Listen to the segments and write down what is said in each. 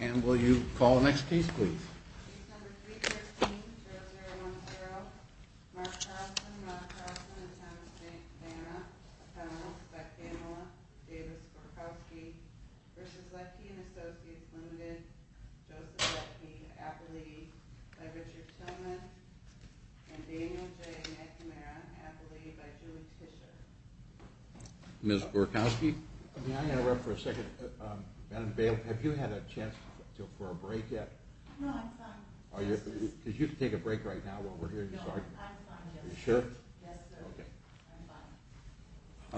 And will you call the next piece, please? Piece number 313-0010. Mark Carlson, Mark Carlson, and Thomas Vanna, Appellants, by Pamela Davis-Gorkowski, v. Letke & Associates, Ltd., Joseph Letke, Appellee, by Richard Tillman, and Daniel J. McNamara, Appellee, by Julie Tischer. Ms. Gorkowski? I'm going to interrupt for a second. Madam Bailiff, have you had a chance for a break yet? No, I'm fine. Could you take a break right now while we're here? No, I'm fine. Are you sure? Yes, sir.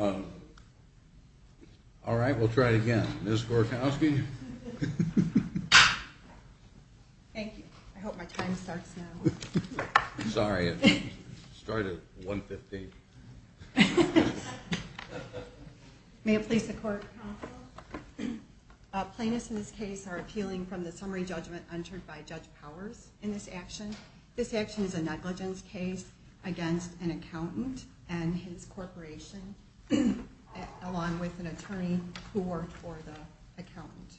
I'm fine. All right, we'll try it again. Ms. Gorkowski? Thank you. I hope my time starts now. Sorry, it started at 1.15. May it please the Court? Counsel? Plaintiffs in this case are appealing from the summary judgment entered by Judge Powers in this action. This action is a negligence case against an accountant and his corporation, along with an attorney who worked for the accountant.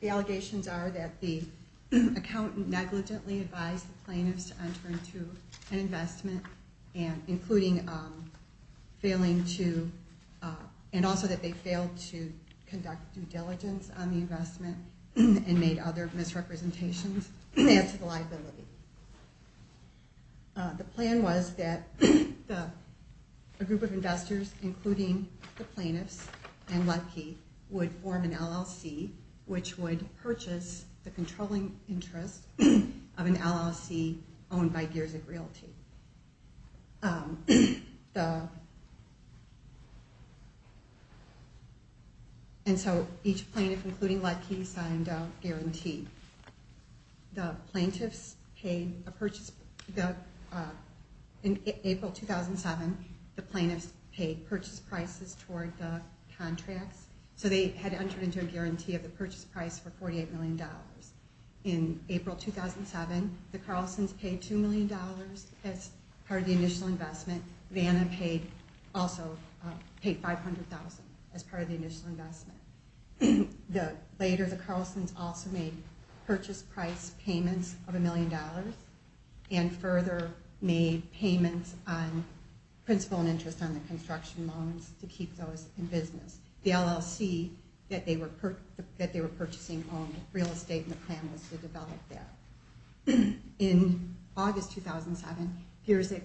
The allegations are that the accountant negligently advised the plaintiffs to enter into an investment, and also that they failed to conduct due diligence on the investment and made other misrepresentations. They answer the liability. The plan was that a group of investors, including the plaintiffs and Lutke, would form an LLC, which would purchase the controlling interest of an LLC owned by Giersig Realty. And so each plaintiff, including Lutke, signed a guarantee. In April 2007, the plaintiffs paid purchase prices toward the contracts, so they had entered into a guarantee of the purchase price for $48 million. In April 2007, the Carlsons paid $2 million as part of the initial investment. Vanna also paid $500,000 as part of the initial investment. Later, the Carlsons also made purchase price payments of $1 million and further made payments on principal and interest on the construction loans to keep those in business. The LLC that they were purchasing owned real estate, and the plan was to develop that. In August 2007, Giersig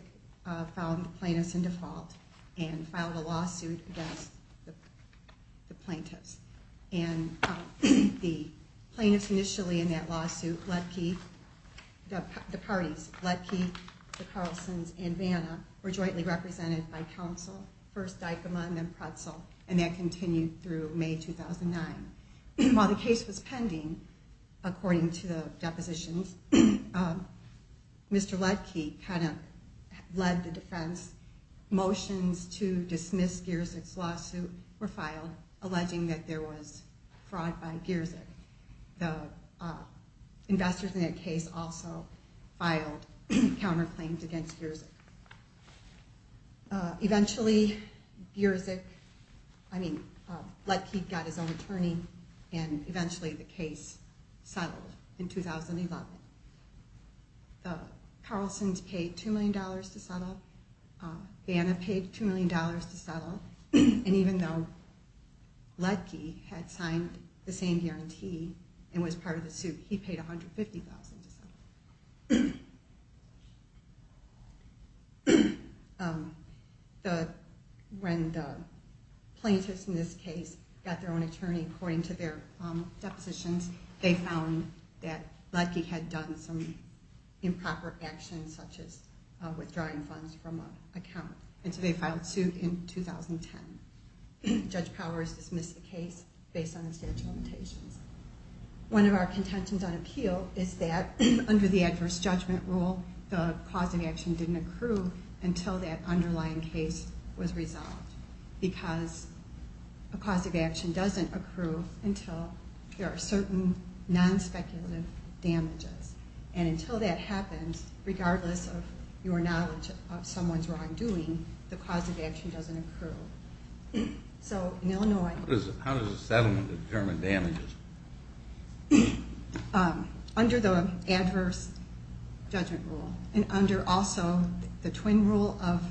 found the plaintiffs in default and filed a lawsuit against the plaintiffs. And the plaintiffs initially in that lawsuit, the parties, Lutke, the Carlsons, and Vanna, were jointly represented by counsel, first Dykema and then Pretzel, and that continued through May 2009. While the case was pending, according to the depositions, Mr. Lutke kind of led the defense. Motions to dismiss Giersig's lawsuit were filed, alleging that there was fraud by Giersig. The investors in that case also filed counterclaims against Giersig. Eventually, Giersig, I mean, Lutke got his own attorney, and eventually the case settled in 2011. The Carlsons paid $2 million to settle, Vanna paid $2 million to settle, and even though Lutke had signed the same guarantee and was part of the suit, he paid $150,000 to settle. When the plaintiffs in this case got their own attorney, according to their depositions, they found that Lutke had done some improper actions, such as withdrawing funds from an account, and so they filed a suit in 2010. Judge Powers dismissed the case based on the statute of limitations. One of our contentions on appeal is that under the adverse judgment rule, the cause of action didn't accrue until that underlying case was resolved, because a cause of action doesn't accrue until there are certain non-speculative damages, and until that happens, regardless of your knowledge of someone's wrongdoing, the cause of action doesn't accrue. So in Illinois... How does a settlement determine damages? Under the adverse judgment rule, and under also the twin rule of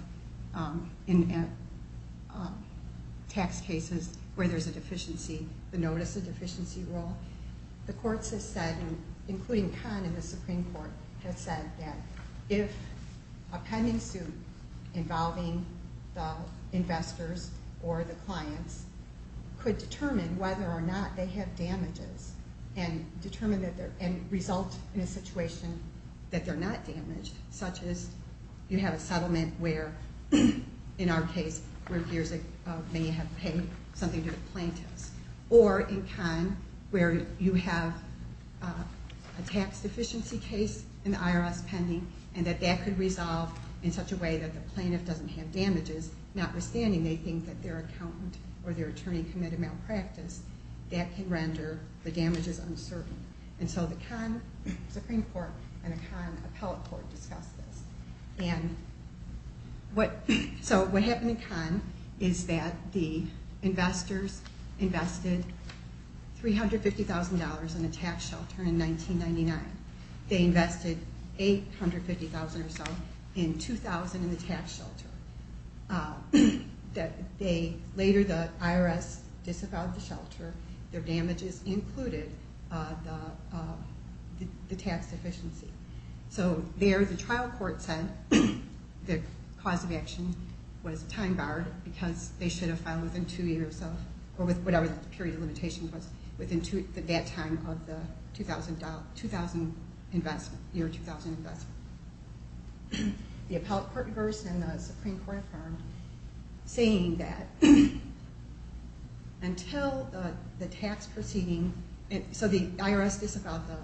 tax cases where there's a deficiency, the notice of deficiency rule, the courts have said, including Kahn in the Supreme Court, have said that if a pending suit involving the investors or the clients could determine whether or not they have damages and result in a situation that they're not damaged, such as you have a settlement where, in our case, many have paid something to the plaintiffs, or in Kahn, where you have a tax deficiency case in the IRS pending, and that that could resolve in such a way that the plaintiff doesn't have damages, notwithstanding they think that their accountant or their attorney committed malpractice, that can render the damages uncertain. And so the Kahn Supreme Court and the Kahn Appellate Court discussed this. So what happened in Kahn is that the investors invested $350,000 in a tax shelter in 1999. They invested $850,000 or so in 2000 in the tax shelter. Later the IRS disavowed the shelter. Their damages included the tax deficiency. So there the trial court said the cause of action was time barred because they should have filed within two years of, or whatever the period of limitation was, within that time of the year 2000 investment. The Appellate Court reversed and the Supreme Court affirmed, saying that until the tax proceeding, so the IRS disavowed the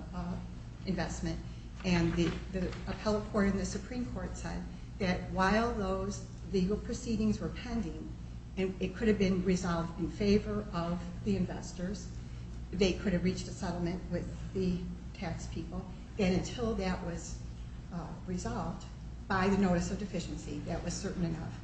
investment, and the Appellate Court and the Supreme Court said that while those legal proceedings were pending, it could have been resolved in favor of the investors, they could have reached a settlement with the tax people, and until that was resolved by the notice of deficiency, that was certain enough.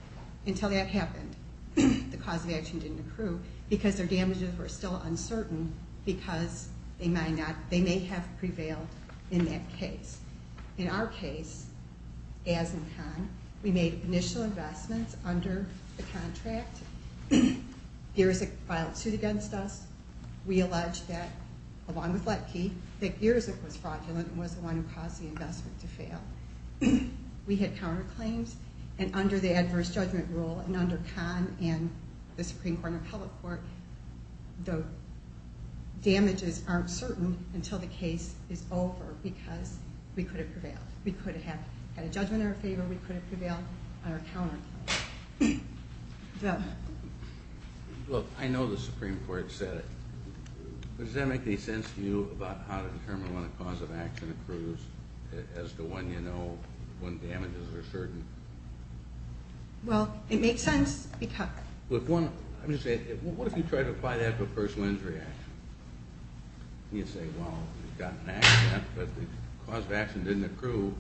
Until that happened, the cause of action didn't accrue because their damages were still uncertain because they may have prevailed in that case. In our case, as in Kahn, we made initial investments under the contract. Geerzyk filed suit against us. We alleged that, along with Letke, that Geerzyk was fraudulent and was the one who caused the investment to fail. We had counterclaims, and under the adverse judgment rule, and under Kahn and the Supreme Court and the Appellate Court, the damages aren't certain until the case is over because we could have prevailed. We could have had a judgment in our favor. We could have prevailed on our counterclaims. Look, I know the Supreme Court said it, but does that make any sense to you about how to determine when a cause of action accrues, as the one you know when damages are certain? Well, it makes sense because— Look, I'm just saying, what if you tried to apply that to a personal injury action? You'd say, well, you've got an accident, but the cause of action didn't accrue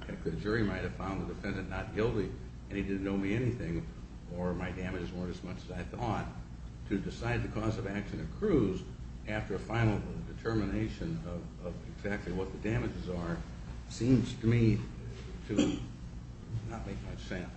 because the jury might have found the defendant not guilty, and he didn't owe me anything, or my damages weren't as much as I thought. To decide the cause of action accrues after a final determination of exactly what the damages are seems to me to not make much sense.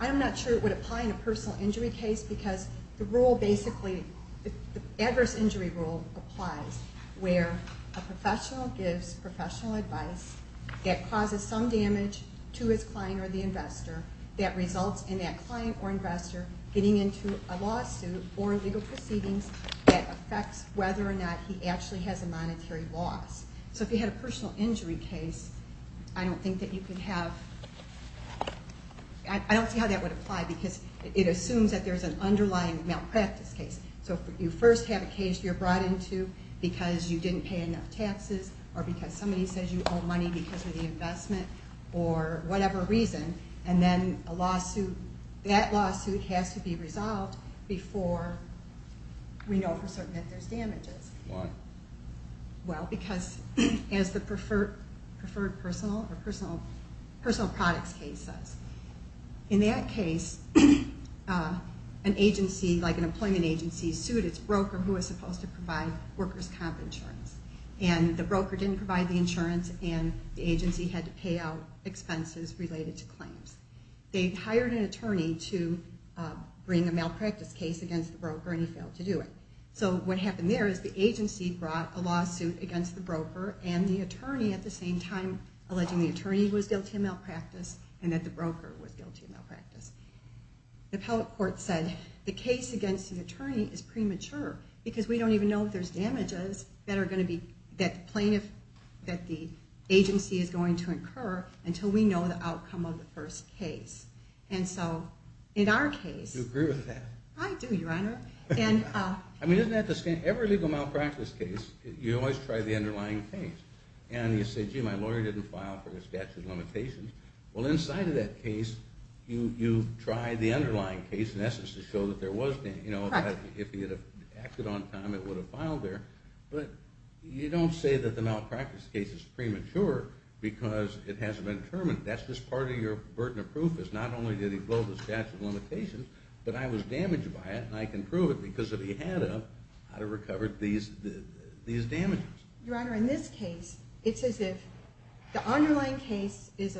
I'm not sure it would apply in a personal injury case because the rule basically—the adverse injury rule applies where a professional gives professional advice that causes some damage to his client or the investor that results in that client or investor getting into a lawsuit or legal proceedings that affects whether or not he actually has a monetary loss. So if you had a personal injury case, I don't think that you could have— I don't see how that would apply because it assumes that there's an underlying malpractice case. So you first have a case you're brought into because you didn't pay enough taxes or because somebody says you owe money because of the investment or whatever reason, and then a lawsuit—that lawsuit has to be resolved before we know for certain that there's damages. Why? Well, because as the preferred personal or personal products case says, in that case, an agency like an employment agency sued its broker who was supposed to provide workers' comp insurance, and the broker didn't provide the insurance and the agency had to pay out expenses related to claims. They hired an attorney to bring a malpractice case against the broker and he failed to do it. So what happened there is the agency brought a lawsuit against the broker and the attorney at the same time alleging the attorney was guilty of malpractice and that the broker was guilty of malpractice. The appellate court said the case against the attorney is premature because we don't even know if there's damages that the agency is going to incur until we know the outcome of the first case. And so in our case— You agree with that? I do, Your Honor. I mean, isn't that the same? Every legal malpractice case, you always try the underlying case. And you say, gee, my lawyer didn't file for his statute of limitations. Well, inside of that case, you try the underlying case in essence to show that there was damage. If he had acted on time, it would have filed there. But you don't say that the malpractice case is premature because it hasn't been determined. That's just part of your burden of proof is not only did he blow the statute of limitations, but I was damaged by it, and I can prove it because if he had of, I'd have recovered these damages. Your Honor, in this case, it's as if the underlying case is—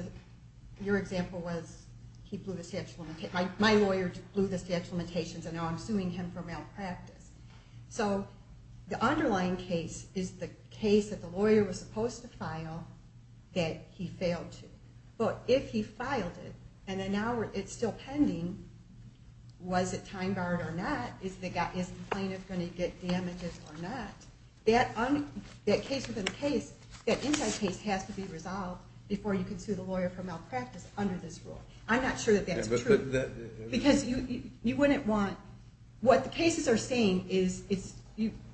your example was he blew the statute of limitations. My lawyer blew the statute of limitations, and now I'm suing him for malpractice. So the underlying case is the case that the lawyer was supposed to file that he failed to. But if he filed it, and now it's still pending, was it time-barred or not? Is the plaintiff going to get damages or not? That case within the case, that inside case, has to be resolved before you can sue the lawyer for malpractice under this rule. I'm not sure that that's true. Because you wouldn't want—what the cases are saying is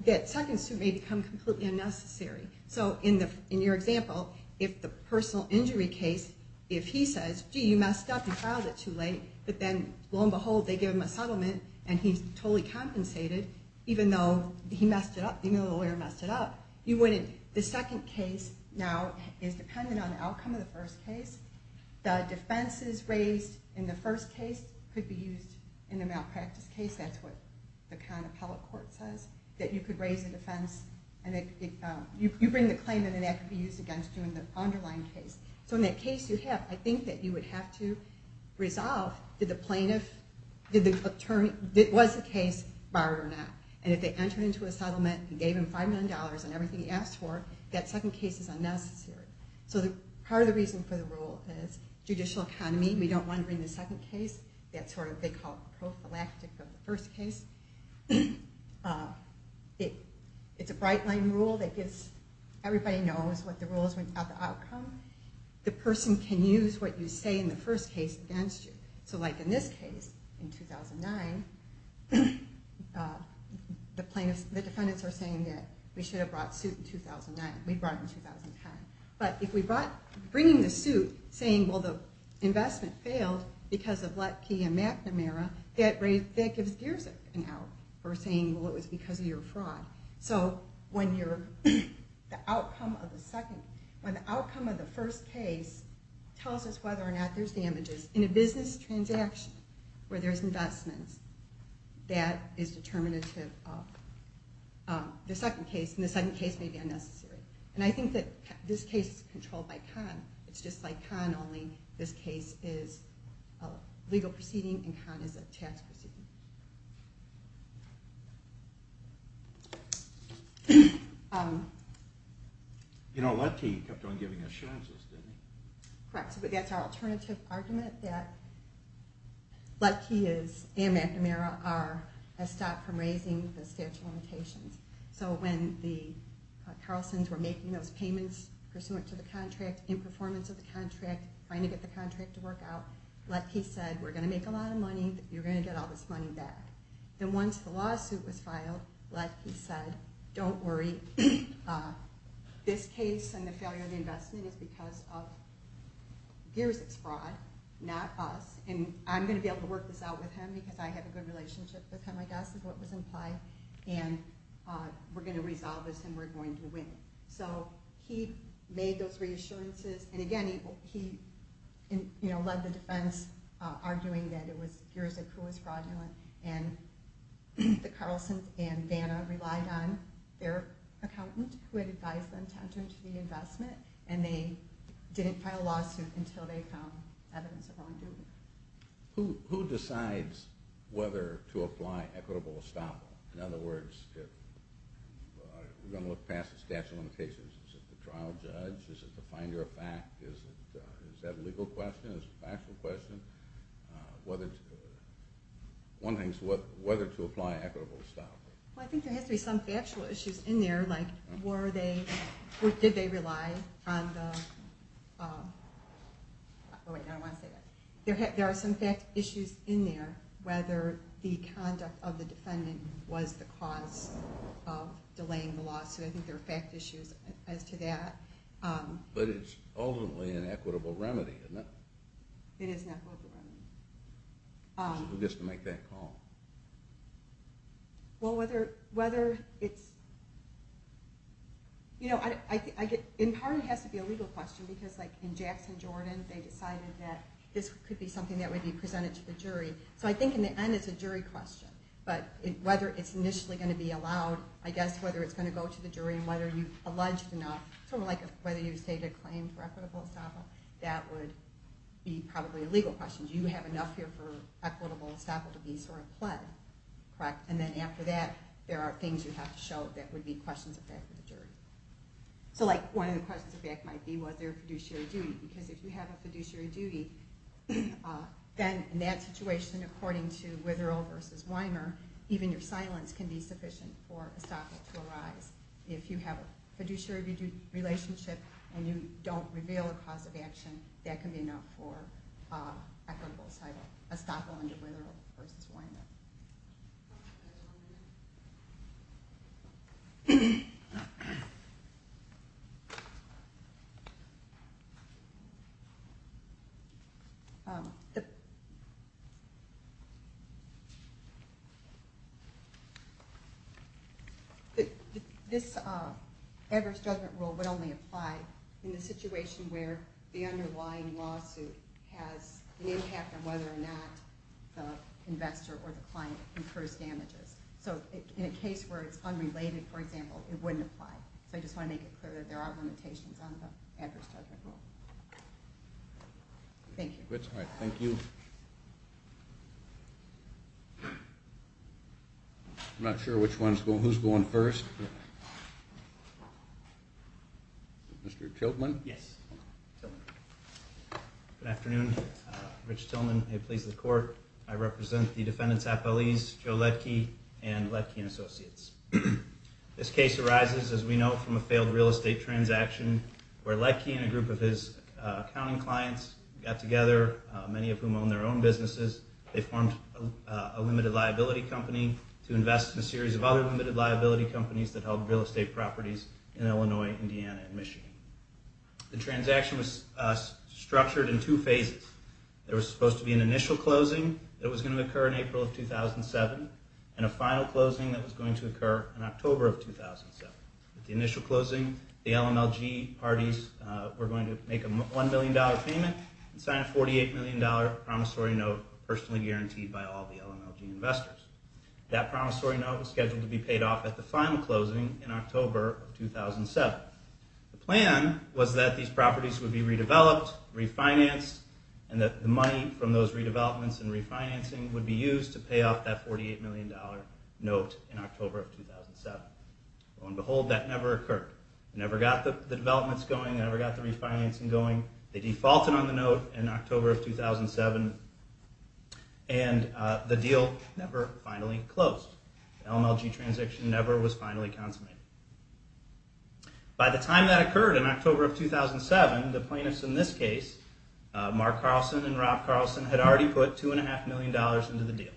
that second suit may become completely unnecessary. So in your example, if the personal injury case, if he says, gee, you messed up, you filed it too late, but then, lo and behold, they give him a settlement, and he's totally compensated, even though he messed it up, even though the lawyer messed it up, you wouldn't— the second case now is dependent on the outcome of the first case. The defenses raised in the first case could be used in a malpractice case. That's what the kind of public court says, that you could raise a defense, and you bring the claim, and then that could be used against you in the underlying case. So in that case you have—I think that you would have to resolve, did the plaintiff— did the attorney—was the case barred or not? And if they entered into a settlement and gave him $5 million and everything he asked for, that second case is unnecessary. So part of the reason for the rule is judicial economy. We don't want to bring the second case, that sort of—they call it the prophylactic of the first case. It's a bright-line rule that gives—everybody knows what the rule is without the outcome. The person can use what you say in the first case against you. So like in this case, in 2009, the plaintiffs—the defendants are saying that we should have brought suit in 2009. We brought it in 2010. But if we brought—bringing the suit, saying, well, the investment failed because of Lettke and McNamara, that gives Giersenk an out for saying, well, it was because of your fraud. So when you're—the outcome of the second—when the outcome of the first case tells us whether or not there's damages in a business transaction where there's investments, that is determinative of the second case, and the second case may be unnecessary. And I think that this case is controlled by Kahn. It's just like Kahn, only this case is a legal proceeding and Kahn is a tax proceeding. You know, Lettke kept on giving assurances, didn't he? Correct, but that's our alternative argument, that Lettke and McNamara are a stop from raising the statute of limitations. So when the Carlsons were making those payments pursuant to the contract, in performance of the contract, trying to get the contract to work out, Lettke said, we're going to make a lot of money. You're going to get all this money back. Then once the lawsuit was filed, Lettke said, don't worry. This case and the failure of the investment is because of Giersenk's fraud, not us. And I'm going to be able to work this out with him because I have a good relationship with him, I guess, is what was implied. And we're going to resolve this and we're going to win. So he made those reassurances. And again, he led the defense, arguing that it was Giersenk who was fraudulent. And the Carlsons and Vanna relied on their accountant who had advised them to enter into the investment. And they didn't file a lawsuit until they found evidence of wrongdoing. Who decides whether to apply equitable estoppel? In other words, we're going to look past the statute of limitations. Is it the trial judge? Is it the finder of fact? Is that a legal question? Is it a factual question? One thing is whether to apply equitable estoppel. Well, I think there has to be some factual issues in there. Did they rely on the... There are some fact issues in there, whether the conduct of the defendant was the cause of delaying the lawsuit. I think there are fact issues as to that. But it's ultimately an equitable remedy, isn't it? It is an equitable remedy. Who gets to make that call? Well, whether it's... In part, it has to be a legal question, because in Jackson Jordan, they decided that this could be something that would be presented to the jury. So I think in the end, it's a jury question. But whether it's initially going to be allowed, I guess, whether it's going to go to the jury, and whether you've alleged enough, sort of like whether you've stated a claim for equitable estoppel, that would be probably a legal question. Do you have enough here for equitable estoppel to be sort of pled? And then after that, there are things you have to show that would be questions of fact with the jury. So one of the questions of fact might be, was there a fiduciary duty? Because if you have a fiduciary duty, then in that situation, according to Witherill v. Weimer, even your silence can be sufficient for estoppel to arise. If you have a fiduciary duty relationship and you don't reveal a cause of action, that can be enough for equitable estoppel under Witherill v. Weimer. This adverse judgment rule would only apply in the situation where the underlying lawsuit has an impact on whether or not the investor or the client incurs damages. So in a case where it's unrelated, for example, it wouldn't apply. So I just want to make it clear that there are limitations on the adverse judgment rule. Thank you. All right, thank you. I'm not sure who's going first. Mr. Tilghman? Yes. Good afternoon. Rich Tilghman. It pleases the court. I represent the defendants' appellees, Joe Ledtke and Ledtke and Associates. This case arises, as we know, from a failed real estate transaction where Ledtke and a group of his accounting clients got together, many of whom own their own businesses. They formed a limited liability company to invest in a series of other limited liability companies that held real estate properties in Illinois, Indiana, and Michigan. The transaction was structured in two phases. There was supposed to be an initial closing that was going to occur in April of 2007 and a final closing that was going to occur in October of 2007. At the initial closing, the LMLG parties were going to make a $1 million payment and sign a $48 million promissory note personally guaranteed by all the LMLG investors. That promissory note was scheduled to be paid off at the final closing in October of 2007. The plan was that these properties would be redeveloped, refinanced, and that the money from those redevelopments and refinancing would be used to pay off that $48 million note in October of 2007. Lo and behold, that never occurred. They never got the developments going, never got the refinancing going. They defaulted on the note in October of 2007, and the deal never finally closed. The LMLG transaction never was finally consummated. By the time that occurred in October of 2007, the plaintiffs in this case, Mark Carlson and Rob Carlson, had already put $2.5 million into the deal.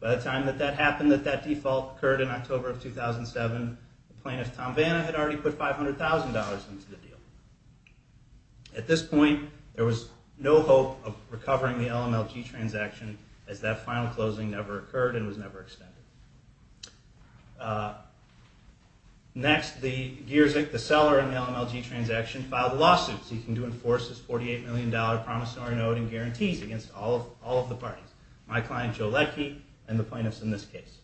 By the time that that default occurred in October of 2007, the plaintiff, Tom Vanna, had already put $500,000 into the deal. At this point, there was no hope of recovering the LMLG transaction, as that final closing never occurred and was never extended. Next, the Geerzyk, the seller in the LMLG transaction, filed a lawsuit seeking to enforce this $48 million promissory note and guarantees against all of the parties. My client, Joe Letke, and the plaintiffs in this case.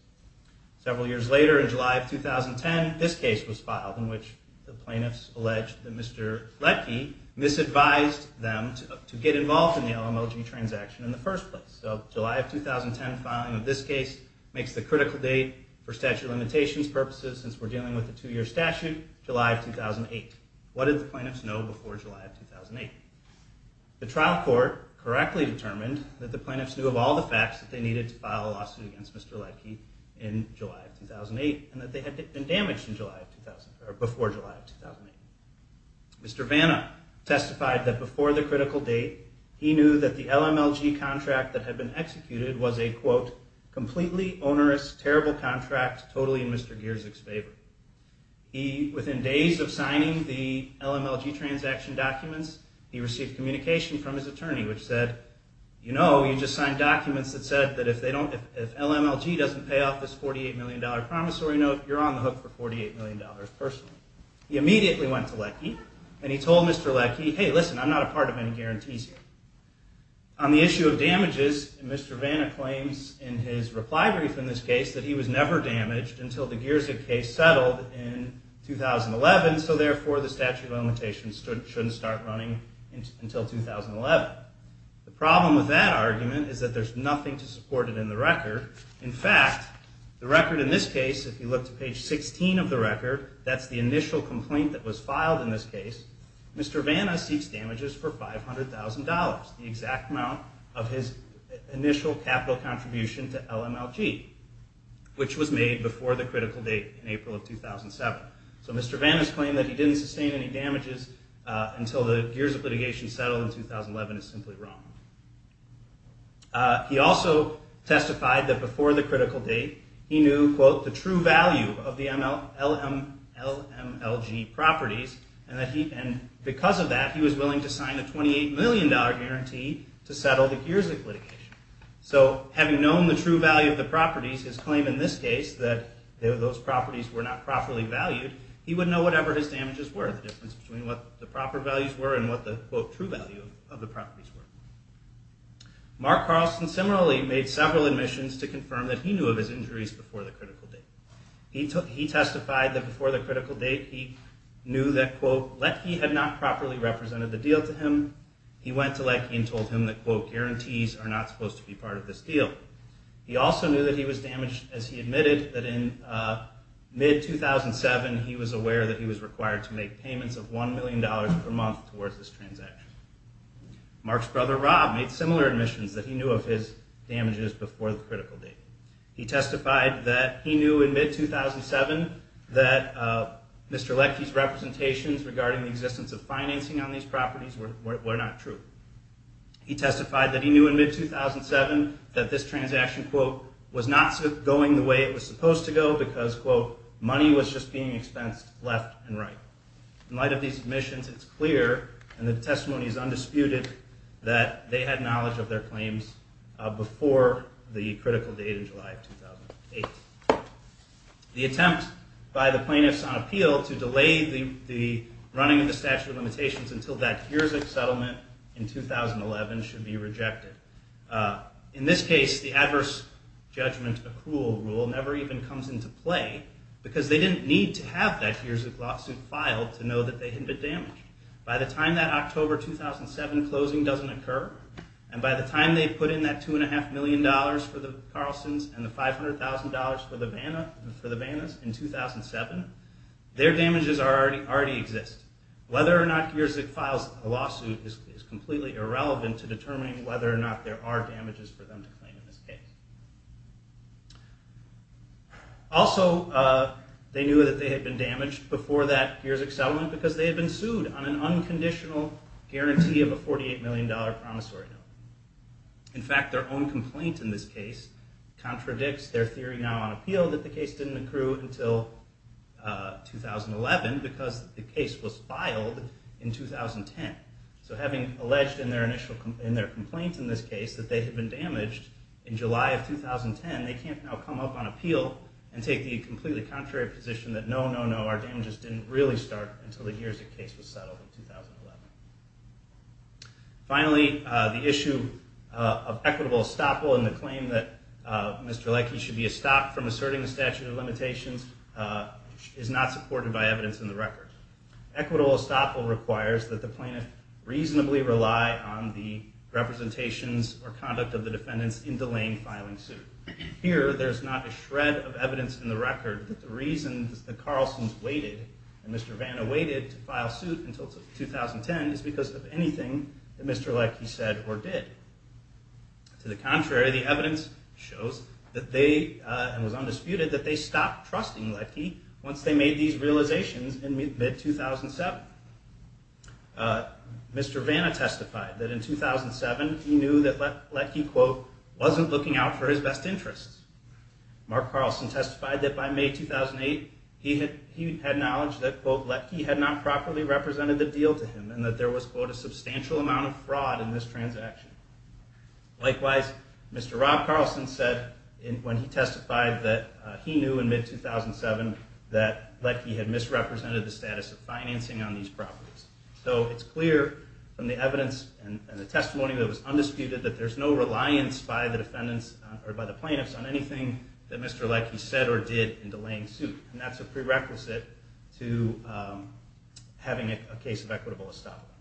Several years later, in July of 2010, this case was filed, in which the plaintiffs alleged that Mr. Letke misadvised them to get involved in the LMLG transaction in the first place. So July of 2010 filing of this case makes the critical date for statute of limitations purposes, since we're dealing with a two-year statute, July of 2008. What did the plaintiffs know before July of 2008? The trial court correctly determined that the plaintiffs knew of all the facts that they needed to file a lawsuit against Mr. Letke in July of 2008 and that they had been damaged before July of 2008. Mr. Vanna testified that before the critical date, he knew that the LMLG contract that had been executed was a, quote, completely onerous, terrible contract, totally in Mr. Geerzyk's favor. Within days of signing the LMLG transaction documents, he received communication from his attorney, which said, you know, you just signed documents that said that if LMLG doesn't pay off this $48 million promissory note, you're on the hook for $48 million personally. He immediately went to Letke, and he told Mr. Letke, hey, listen, I'm not a part of any guarantees here. On the issue of damages, Mr. Vanna claims in his reply brief in this case that he was never damaged until the Geerzyk case settled in 2011, so therefore the statute of limitations shouldn't start running until 2011. The problem with that argument is that there's nothing to support it in the record. In fact, the record in this case, if you look to page 16 of the record, that's the initial complaint that was filed in this case, Mr. Vanna seeks damages for $500,000, the exact amount of his initial capital contribution to LMLG, which was made before the critical date in April of 2007. So Mr. Vanna's claim that he didn't sustain any damages until the Geerzyk litigation settled in 2011 is simply wrong. He also testified that before the critical date, he knew, quote, the true value of the LMLG properties, and because of that, he was willing to sign a $28 million guarantee to settle the Geerzyk litigation. So having known the true value of the properties, his claim in this case that those properties were not properly valued, he would know whatever his damages were, the difference between what the proper values were and what the, quote, true value of the properties were. Mark Carlson similarly made several admissions to confirm that he knew of his injuries before the critical date. He testified that before the critical date, he knew that, quote, Lecky had not properly represented the deal to him. He went to Lecky and told him that, quote, guarantees are not supposed to be part of this deal. He also knew that he was damaged as he admitted that in mid-2007, he was aware that he was required to make payments of $1 million per month towards this transaction. Mark's brother, Rob, made similar admissions that he knew of his damages before the critical date. He testified that he knew in mid-2007 that Mr. Lecky's representations regarding the existence of financing on these properties were not true. He testified that he knew in mid-2007 that this transaction, quote, was not going the way it was supposed to go because, quote, money was just being expensed left and right. In light of these admissions, it's clear, and the testimony is undisputed, that they had knowledge of their claims before the critical date in July of 2008. The attempt by the plaintiffs on appeal to delay the running of the statute of limitations until that Kyrzyk settlement in 2011 should be rejected. In this case, the adverse judgment accrual rule never even comes into play because they didn't need to have that Kyrzyk lawsuit filed to know that they had been damaged. By the time that October 2007 closing doesn't occur, and by the time they put in that $2.5 million for the Carlsons and the $500,000 for the Bannas in 2007, their damages already exist. Whether or not Kyrzyk files a lawsuit is completely irrelevant to determining whether or not there are damages for them to claim in this case. Also, they knew that they had been damaged before that Kyrzyk settlement because they had been sued on an unconditional guarantee of a $48 million promissory note. In fact, their own complaint in this case contradicts their theory now on appeal that the case didn't accrue until 2011 because the case was filed in 2010. So having alleged in their complaint in this case that they had been damaged in July of 2010, they can't now come up on appeal and take the completely contrary position that no, no, no, our damages didn't really start until the Kyrzyk case was settled in 2011. Finally, the issue of equitable estoppel and the claim that Mr. Leike should be estopped from asserting the statute of limitations is not supported by evidence in the record. Equitable estoppel requires that the plaintiff reasonably rely on the representations or conduct of the defendants in delaying filing suit. Here, there's not a shred of evidence in the record that the reasons that Carlson's waited and Mr. Vanna waited to file suit until 2010 is because of anything that Mr. Leike said or did. To the contrary, the evidence shows that they, and was undisputed, that they stopped trusting Leike once they made these realizations in mid-2007. Mr. Vanna testified that in 2007, he knew that Leike, quote, wasn't looking out for his best interests. Mark Carlson testified that by May 2008, he had knowledge that, quote, Leike had not properly represented the deal to him and that there was, quote, a substantial amount of fraud in this transaction. Likewise, Mr. Rob Carlson said when he testified that he knew in mid-2007 that Leike had misrepresented the status of financing on these properties. So it's clear from the evidence and the testimony that was undisputed that there's no reliance by the defendants or by the plaintiffs on anything that Mr. Leike said or did in delaying suit. And that's a prerequisite to having a case of equitable establishment.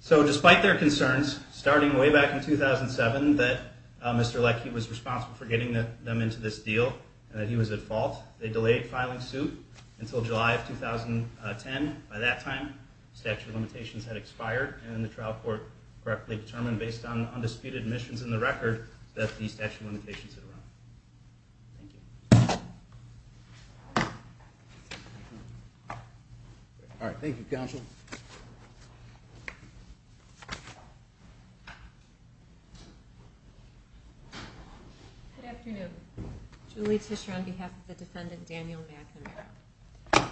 So despite their concerns, starting way back in 2007 that Mr. Leike was responsible for getting them into this deal and that he was at fault, they delayed filing suit until July of 2010. By that time, statute of limitations had expired and the trial court correctly determined based on undisputed admissions in the record that the statute of limitations had run. Thank you. All right, thank you, counsel. Good afternoon. Julie Tischer on behalf of the defendant Daniel McNamara.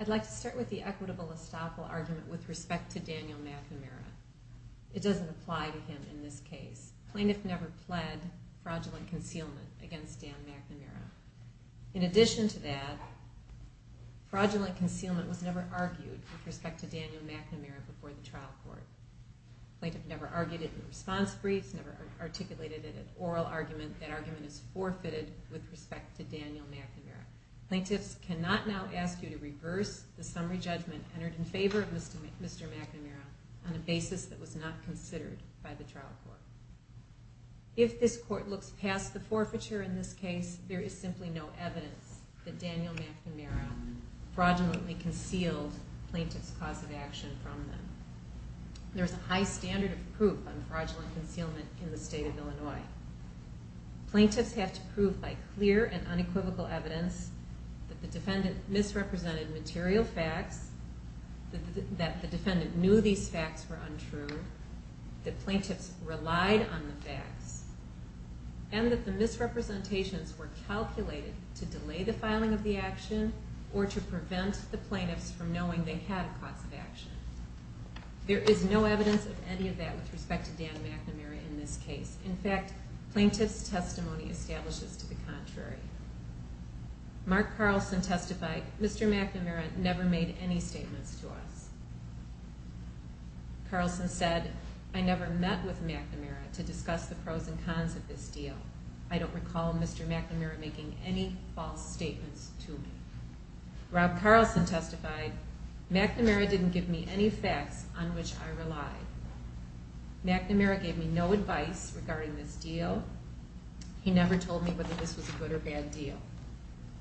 I'd like to start with the equitable estoppel argument with respect to Daniel McNamara. It doesn't apply to him in this case. Plaintiff never pled fraudulent concealment against Dan McNamara. In addition to that, fraudulent concealment was never argued with respect to Daniel McNamara before the trial court. Plaintiff never argued it in response briefs, never articulated it in an oral argument. That argument is forfeited with respect to Daniel McNamara. Plaintiffs cannot now ask you to reverse the summary judgment entered in favor of Mr. McNamara on a basis that was not considered by the trial court. If this court looks past the forfeiture in this case, there is simply no evidence that Daniel McNamara fraudulently concealed plaintiff's cause of action from them. There is a high standard of proof on fraudulent concealment in the state of Illinois. Plaintiffs have to prove by clear and unequivocal evidence that the defendant misrepresented material facts, that the defendant knew these facts were untrue, that plaintiffs relied on the facts, and that the misrepresentations were calculated to delay the filing of the action or to prevent the plaintiffs from knowing they had a cause of action. There is no evidence of any of that with respect to Dan McNamara in this case. In fact, plaintiff's testimony establishes to the contrary. Mark Carlson testified, Mr. McNamara never made any statements to us. Carlson said, I never met with McNamara to discuss the pros and cons of this deal. I don't recall Mr. McNamara making any false statements to me. Rob Carlson testified, McNamara didn't give me any facts on which I relied. McNamara gave me no advice regarding this deal. He never told me whether this was a good or bad deal.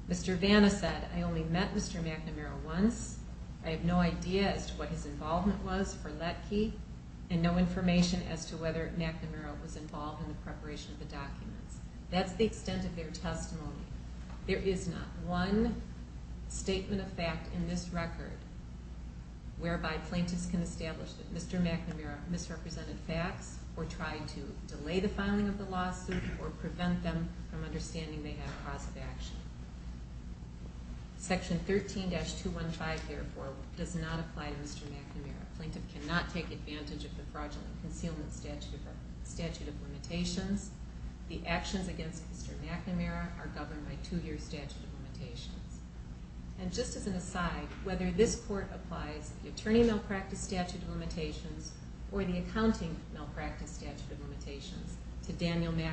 Mr. Vanna said, I only met Mr. McNamara once. I have no idea as to what his involvement was for Lettke and no information as to whether McNamara was involved in the preparation of the documents. That's the extent of their testimony. There is not one statement of fact in this record whereby plaintiffs can establish that Mr. McNamara misrepresented facts or tried to delay the filing of the lawsuit or prevent them from understanding they had a cause of action. Section 13-215, therefore, does not apply to Mr. McNamara. Plaintiff cannot take advantage of the Fraudulent Concealment Statute of Limitations. The actions against Mr. McNamara are governed by two-year statute of limitations. And just as an aside, or the Accounting Malpractice Statute of Limitations to Daniel McNamara.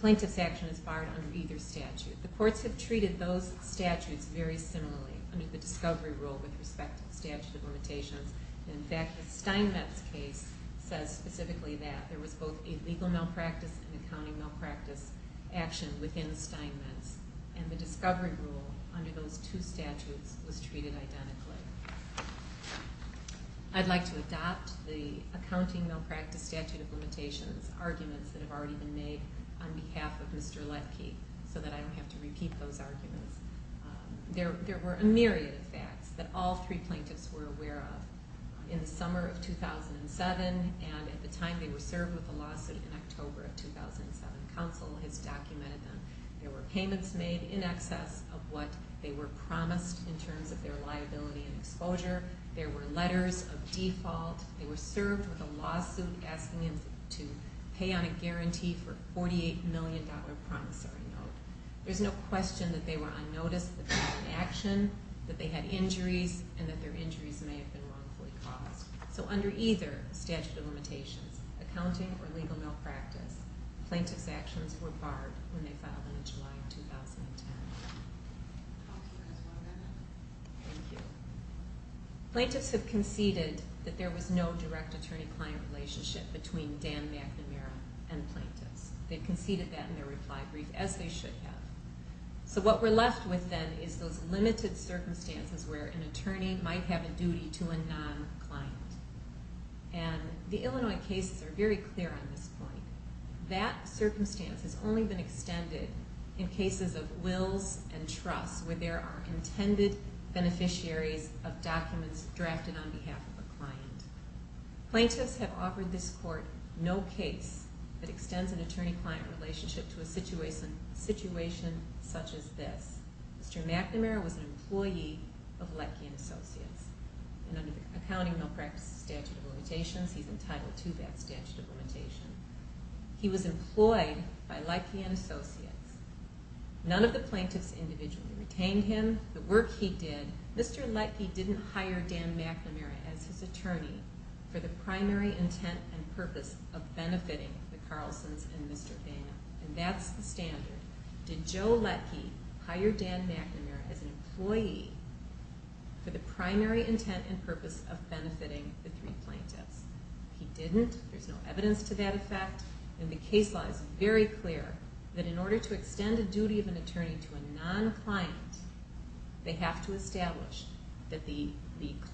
Plaintiff's action is barred under either statute. The courts have treated those statutes very similarly under the discovery rule with respect to the statute of limitations. In fact, the Steinmetz case says specifically that there was both illegal malpractice and accounting malpractice action within Steinmetz. And the discovery rule under those two statutes was treated identically. I'd like to adopt the Accounting Malpractice Statute of Limitations arguments that have already been made on behalf of Mr. Letke so that I don't have to repeat those arguments. There were a myriad of facts that all three plaintiffs were aware of. In the summer of 2007, and at the time they were served with the lawsuit in October of 2007, counsel has documented them. There were payments made in excess of what they were promised in terms of their liability and exposure. There were letters of default. They were served with a lawsuit asking them to pay on a guarantee for a $48 million promissory note. There's no question that they were on notice that they were in action, that they had injuries, and that their injuries may have been wrongfully caused. So under either statute of limitations, accounting or legal malpractice, plaintiff's actions were barred when they filed them in July of 2010. Thank you. Plaintiffs have conceded that there was no direct attorney-client relationship between Dan McNamara and the plaintiffs. They conceded that in their reply brief, as they should have. So what we're left with then is those limited circumstances where an attorney might have a duty to a non-client. And the Illinois cases are very clear on this point. That circumstance has only been extended in cases of wills and trusts where there are intended beneficiaries of documents drafted on behalf of a client. Plaintiffs have offered this court no case that extends an attorney-client relationship to a situation such as this. Mr. McNamara was an employee of Leckian Associates. And under the accounting malpractice statute of limitations, he's entitled to that statute of limitation, he was employed by Leckian Associates. None of the plaintiffs individually retained him. The work he did, Mr. Lecki didn't hire Dan McNamara as his attorney for the primary intent and purpose of benefiting the Carlsons and Mr. Bain. And that's the standard. Did Joe Lecki hire Dan McNamara as an employee for the primary intent and purpose of benefiting the three plaintiffs? He didn't. There's no evidence to that effect. And the case law is very clear that in order to extend a duty of an attorney to a non-client, they have to establish that the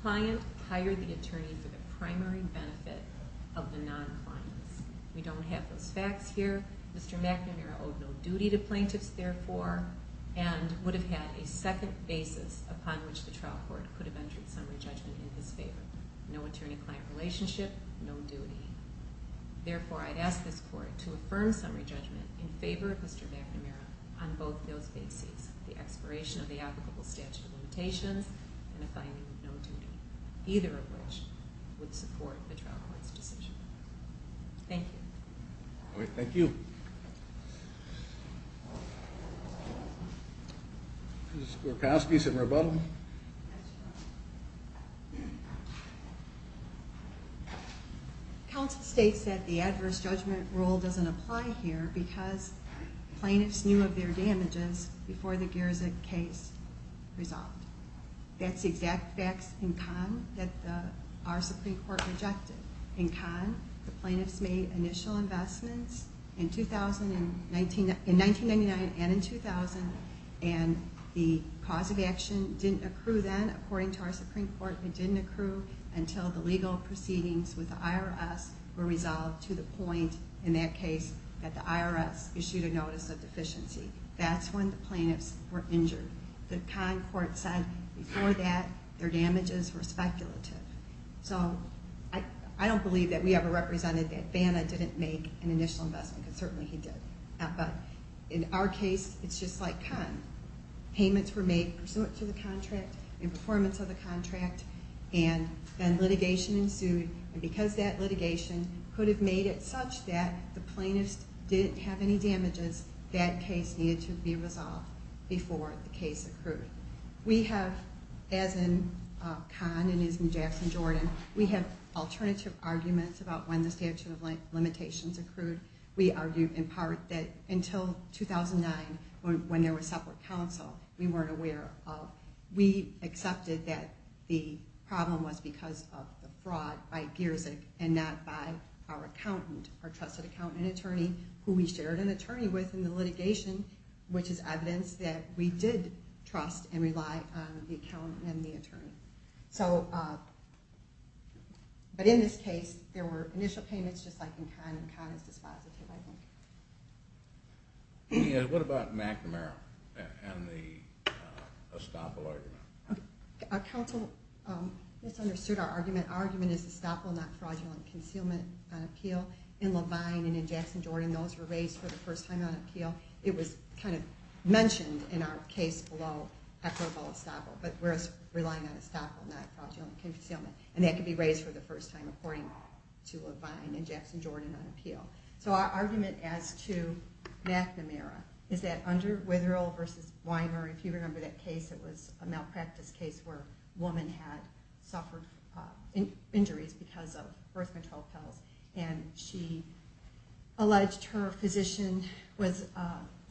client hired the attorney for the primary benefit of the non-client. We don't have those facts here. Mr. McNamara owed no duty to plaintiffs, therefore, and would have had a second basis upon which the trial court could have entered summary judgment in his favor. No attorney-client relationship, no duty. Therefore, I'd ask this court to affirm summary judgment in favor of Mr. McNamara on both those bases, the expiration of the applicable statute of limitations and the finding of no duty, either of which would support the trial court's decision. Thank you. Thank you. Ms. Gorkowski, some rebuttal? Yes, Your Honor. Counsel states that the adverse judgment rule doesn't apply here because plaintiffs knew of their damages before the Gerzik case resolved. That's the exact facts in con that our Supreme Court rejected. In con, the plaintiffs made initial investments in 1999 and in 2000, and the cause of action didn't accrue then, according to our Supreme Court. It didn't accrue until the legal proceedings with the IRS were resolved to the point, in that case, that the IRS issued a notice of deficiency. That's when the plaintiffs were injured. The con court said before that their damages were speculative. I don't believe that we ever represented that Banna didn't make an initial investment, because certainly he did. But in our case, it's just like con. Payments were made pursuant to the contract, in performance of the contract, and then litigation ensued, and because that litigation could have made it such that the plaintiffs didn't have any damages, that case needed to be resolved before the case accrued. We have, as in con and as in Jackson-Jordan, we have alternative arguments about when the statute of limitations accrued. We argue, in part, that until 2009, when there was separate counsel, we weren't aware of. We accepted that the problem was because of the fraud by Gerzik and not by our accountant, our trusted accountant and attorney, who we shared an attorney with in the litigation, which is evidence that we did trust and rely on the accountant and the attorney. But in this case, there were initial payments, just like in con, and con is dispositive, I think. What about McNamara and the estoppel argument? Our counsel misunderstood our argument. Our argument is estoppel, not fraudulent concealment on appeal. In Levine and in Jackson-Jordan, those were raised for the first time on appeal. It was kind of mentioned in our case below after all estoppel, but we're relying on estoppel, not fraudulent concealment. And that could be raised for the first time, according to Levine and Jackson-Jordan on appeal. So our argument as to McNamara is that under Witherill v. Weimer, if you remember that case, it was a malpractice case where a woman had suffered injuries because of birth control pills. And she alleged her physician was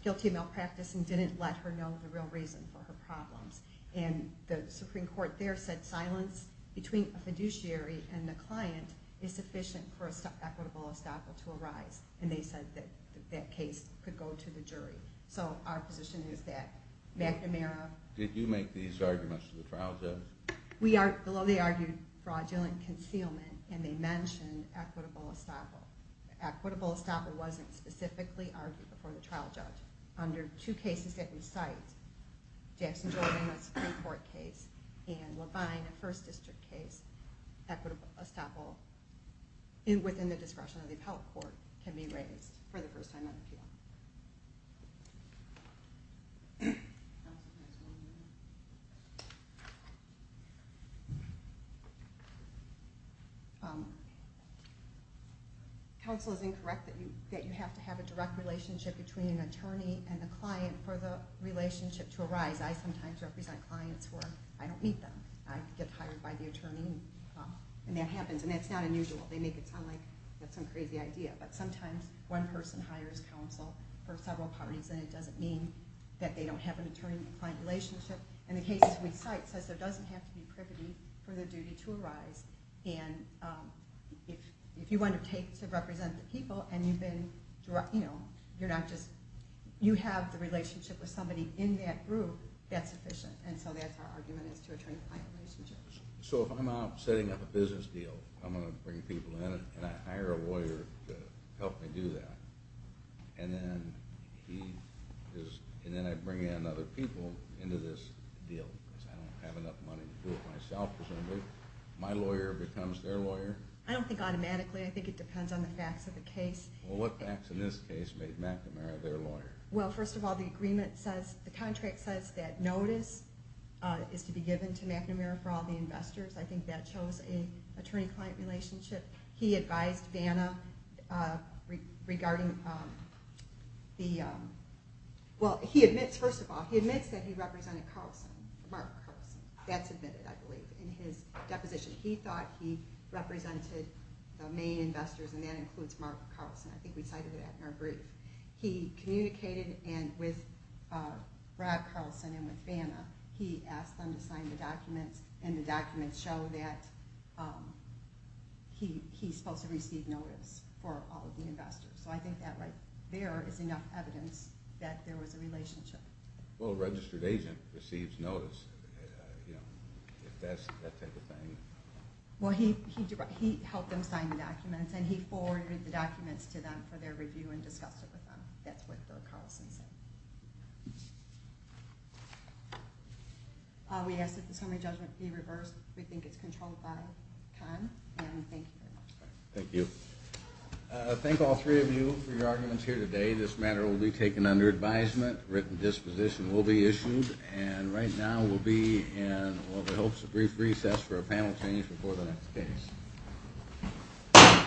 guilty of malpractice and didn't let her know the real reason for her problems. And the Supreme Court there said silence between a fiduciary and the client is sufficient for an equitable estoppel to arise. And they said that that case could go to the jury. So our position is that McNamara... Did you make these arguments to the trial judge? Below they argued fraudulent concealment, and they mentioned equitable estoppel. Equitable estoppel wasn't specifically argued before the trial judge. Under two cases that we cite, Jackson-Jordan, a Supreme Court case, and Levine, a First District case, equitable estoppel within the discretion of the appellate court can be raised for the first time on appeal. Counsel is incorrect that you have to have a direct relationship between an attorney and a client for the relationship to arise. I sometimes represent clients where I don't meet them. I get hired by the attorney, and that happens. And that's not unusual. They make it sound like that's some crazy idea. But sometimes one person hires counsel for several parties, and it doesn't mean that they don't have an attorney-client relationship. And the case that we cite says there doesn't have to be a direct relationship and there doesn't have to be privity for the duty to arise. And if you want to take to represent the people, and you have the relationship with somebody in that group, that's sufficient. And so that's our argument is to attorney-client relationships. So if I'm out setting up a business deal, I'm going to bring people in, and I hire a lawyer to help me do that. And then I bring in other people into this deal because I don't have enough money to do it myself, presumably. My lawyer becomes their lawyer. I don't think automatically. I think it depends on the facts of the case. Well, what facts in this case made McNamara their lawyer? Well, first of all, the agreement says, the contract says, that notice is to be given to McNamara for all the investors. I think that shows an attorney-client relationship. He advised Vanna regarding the, well, he admits, first of all, he admits that he represented Carlson, Mark Carlson. That's admitted, I believe, in his deposition. He thought he represented the main investors, and that includes Mark Carlson. I think we cited that in our brief. He communicated with Brad Carlson and with Vanna. He asked them to sign the documents, and the documents show that he's supposed to receive notice for all of the investors. So I think that right there is enough evidence that there was a relationship. Well, a registered agent receives notice, you know, that type of thing. Well, he helped them sign the documents, and he forwarded the documents to them for their review and discussed it with them. That's what Brad Carlson said. We ask that the summary judgment be reversed. We think it's controlled by Conn, and thank you very much. Thank you. Thank all three of you for your arguments here today. This matter will be taken under advisement. A written disposition will be issued, and right now we'll be in the hopes of brief recess for a panel change before the next case.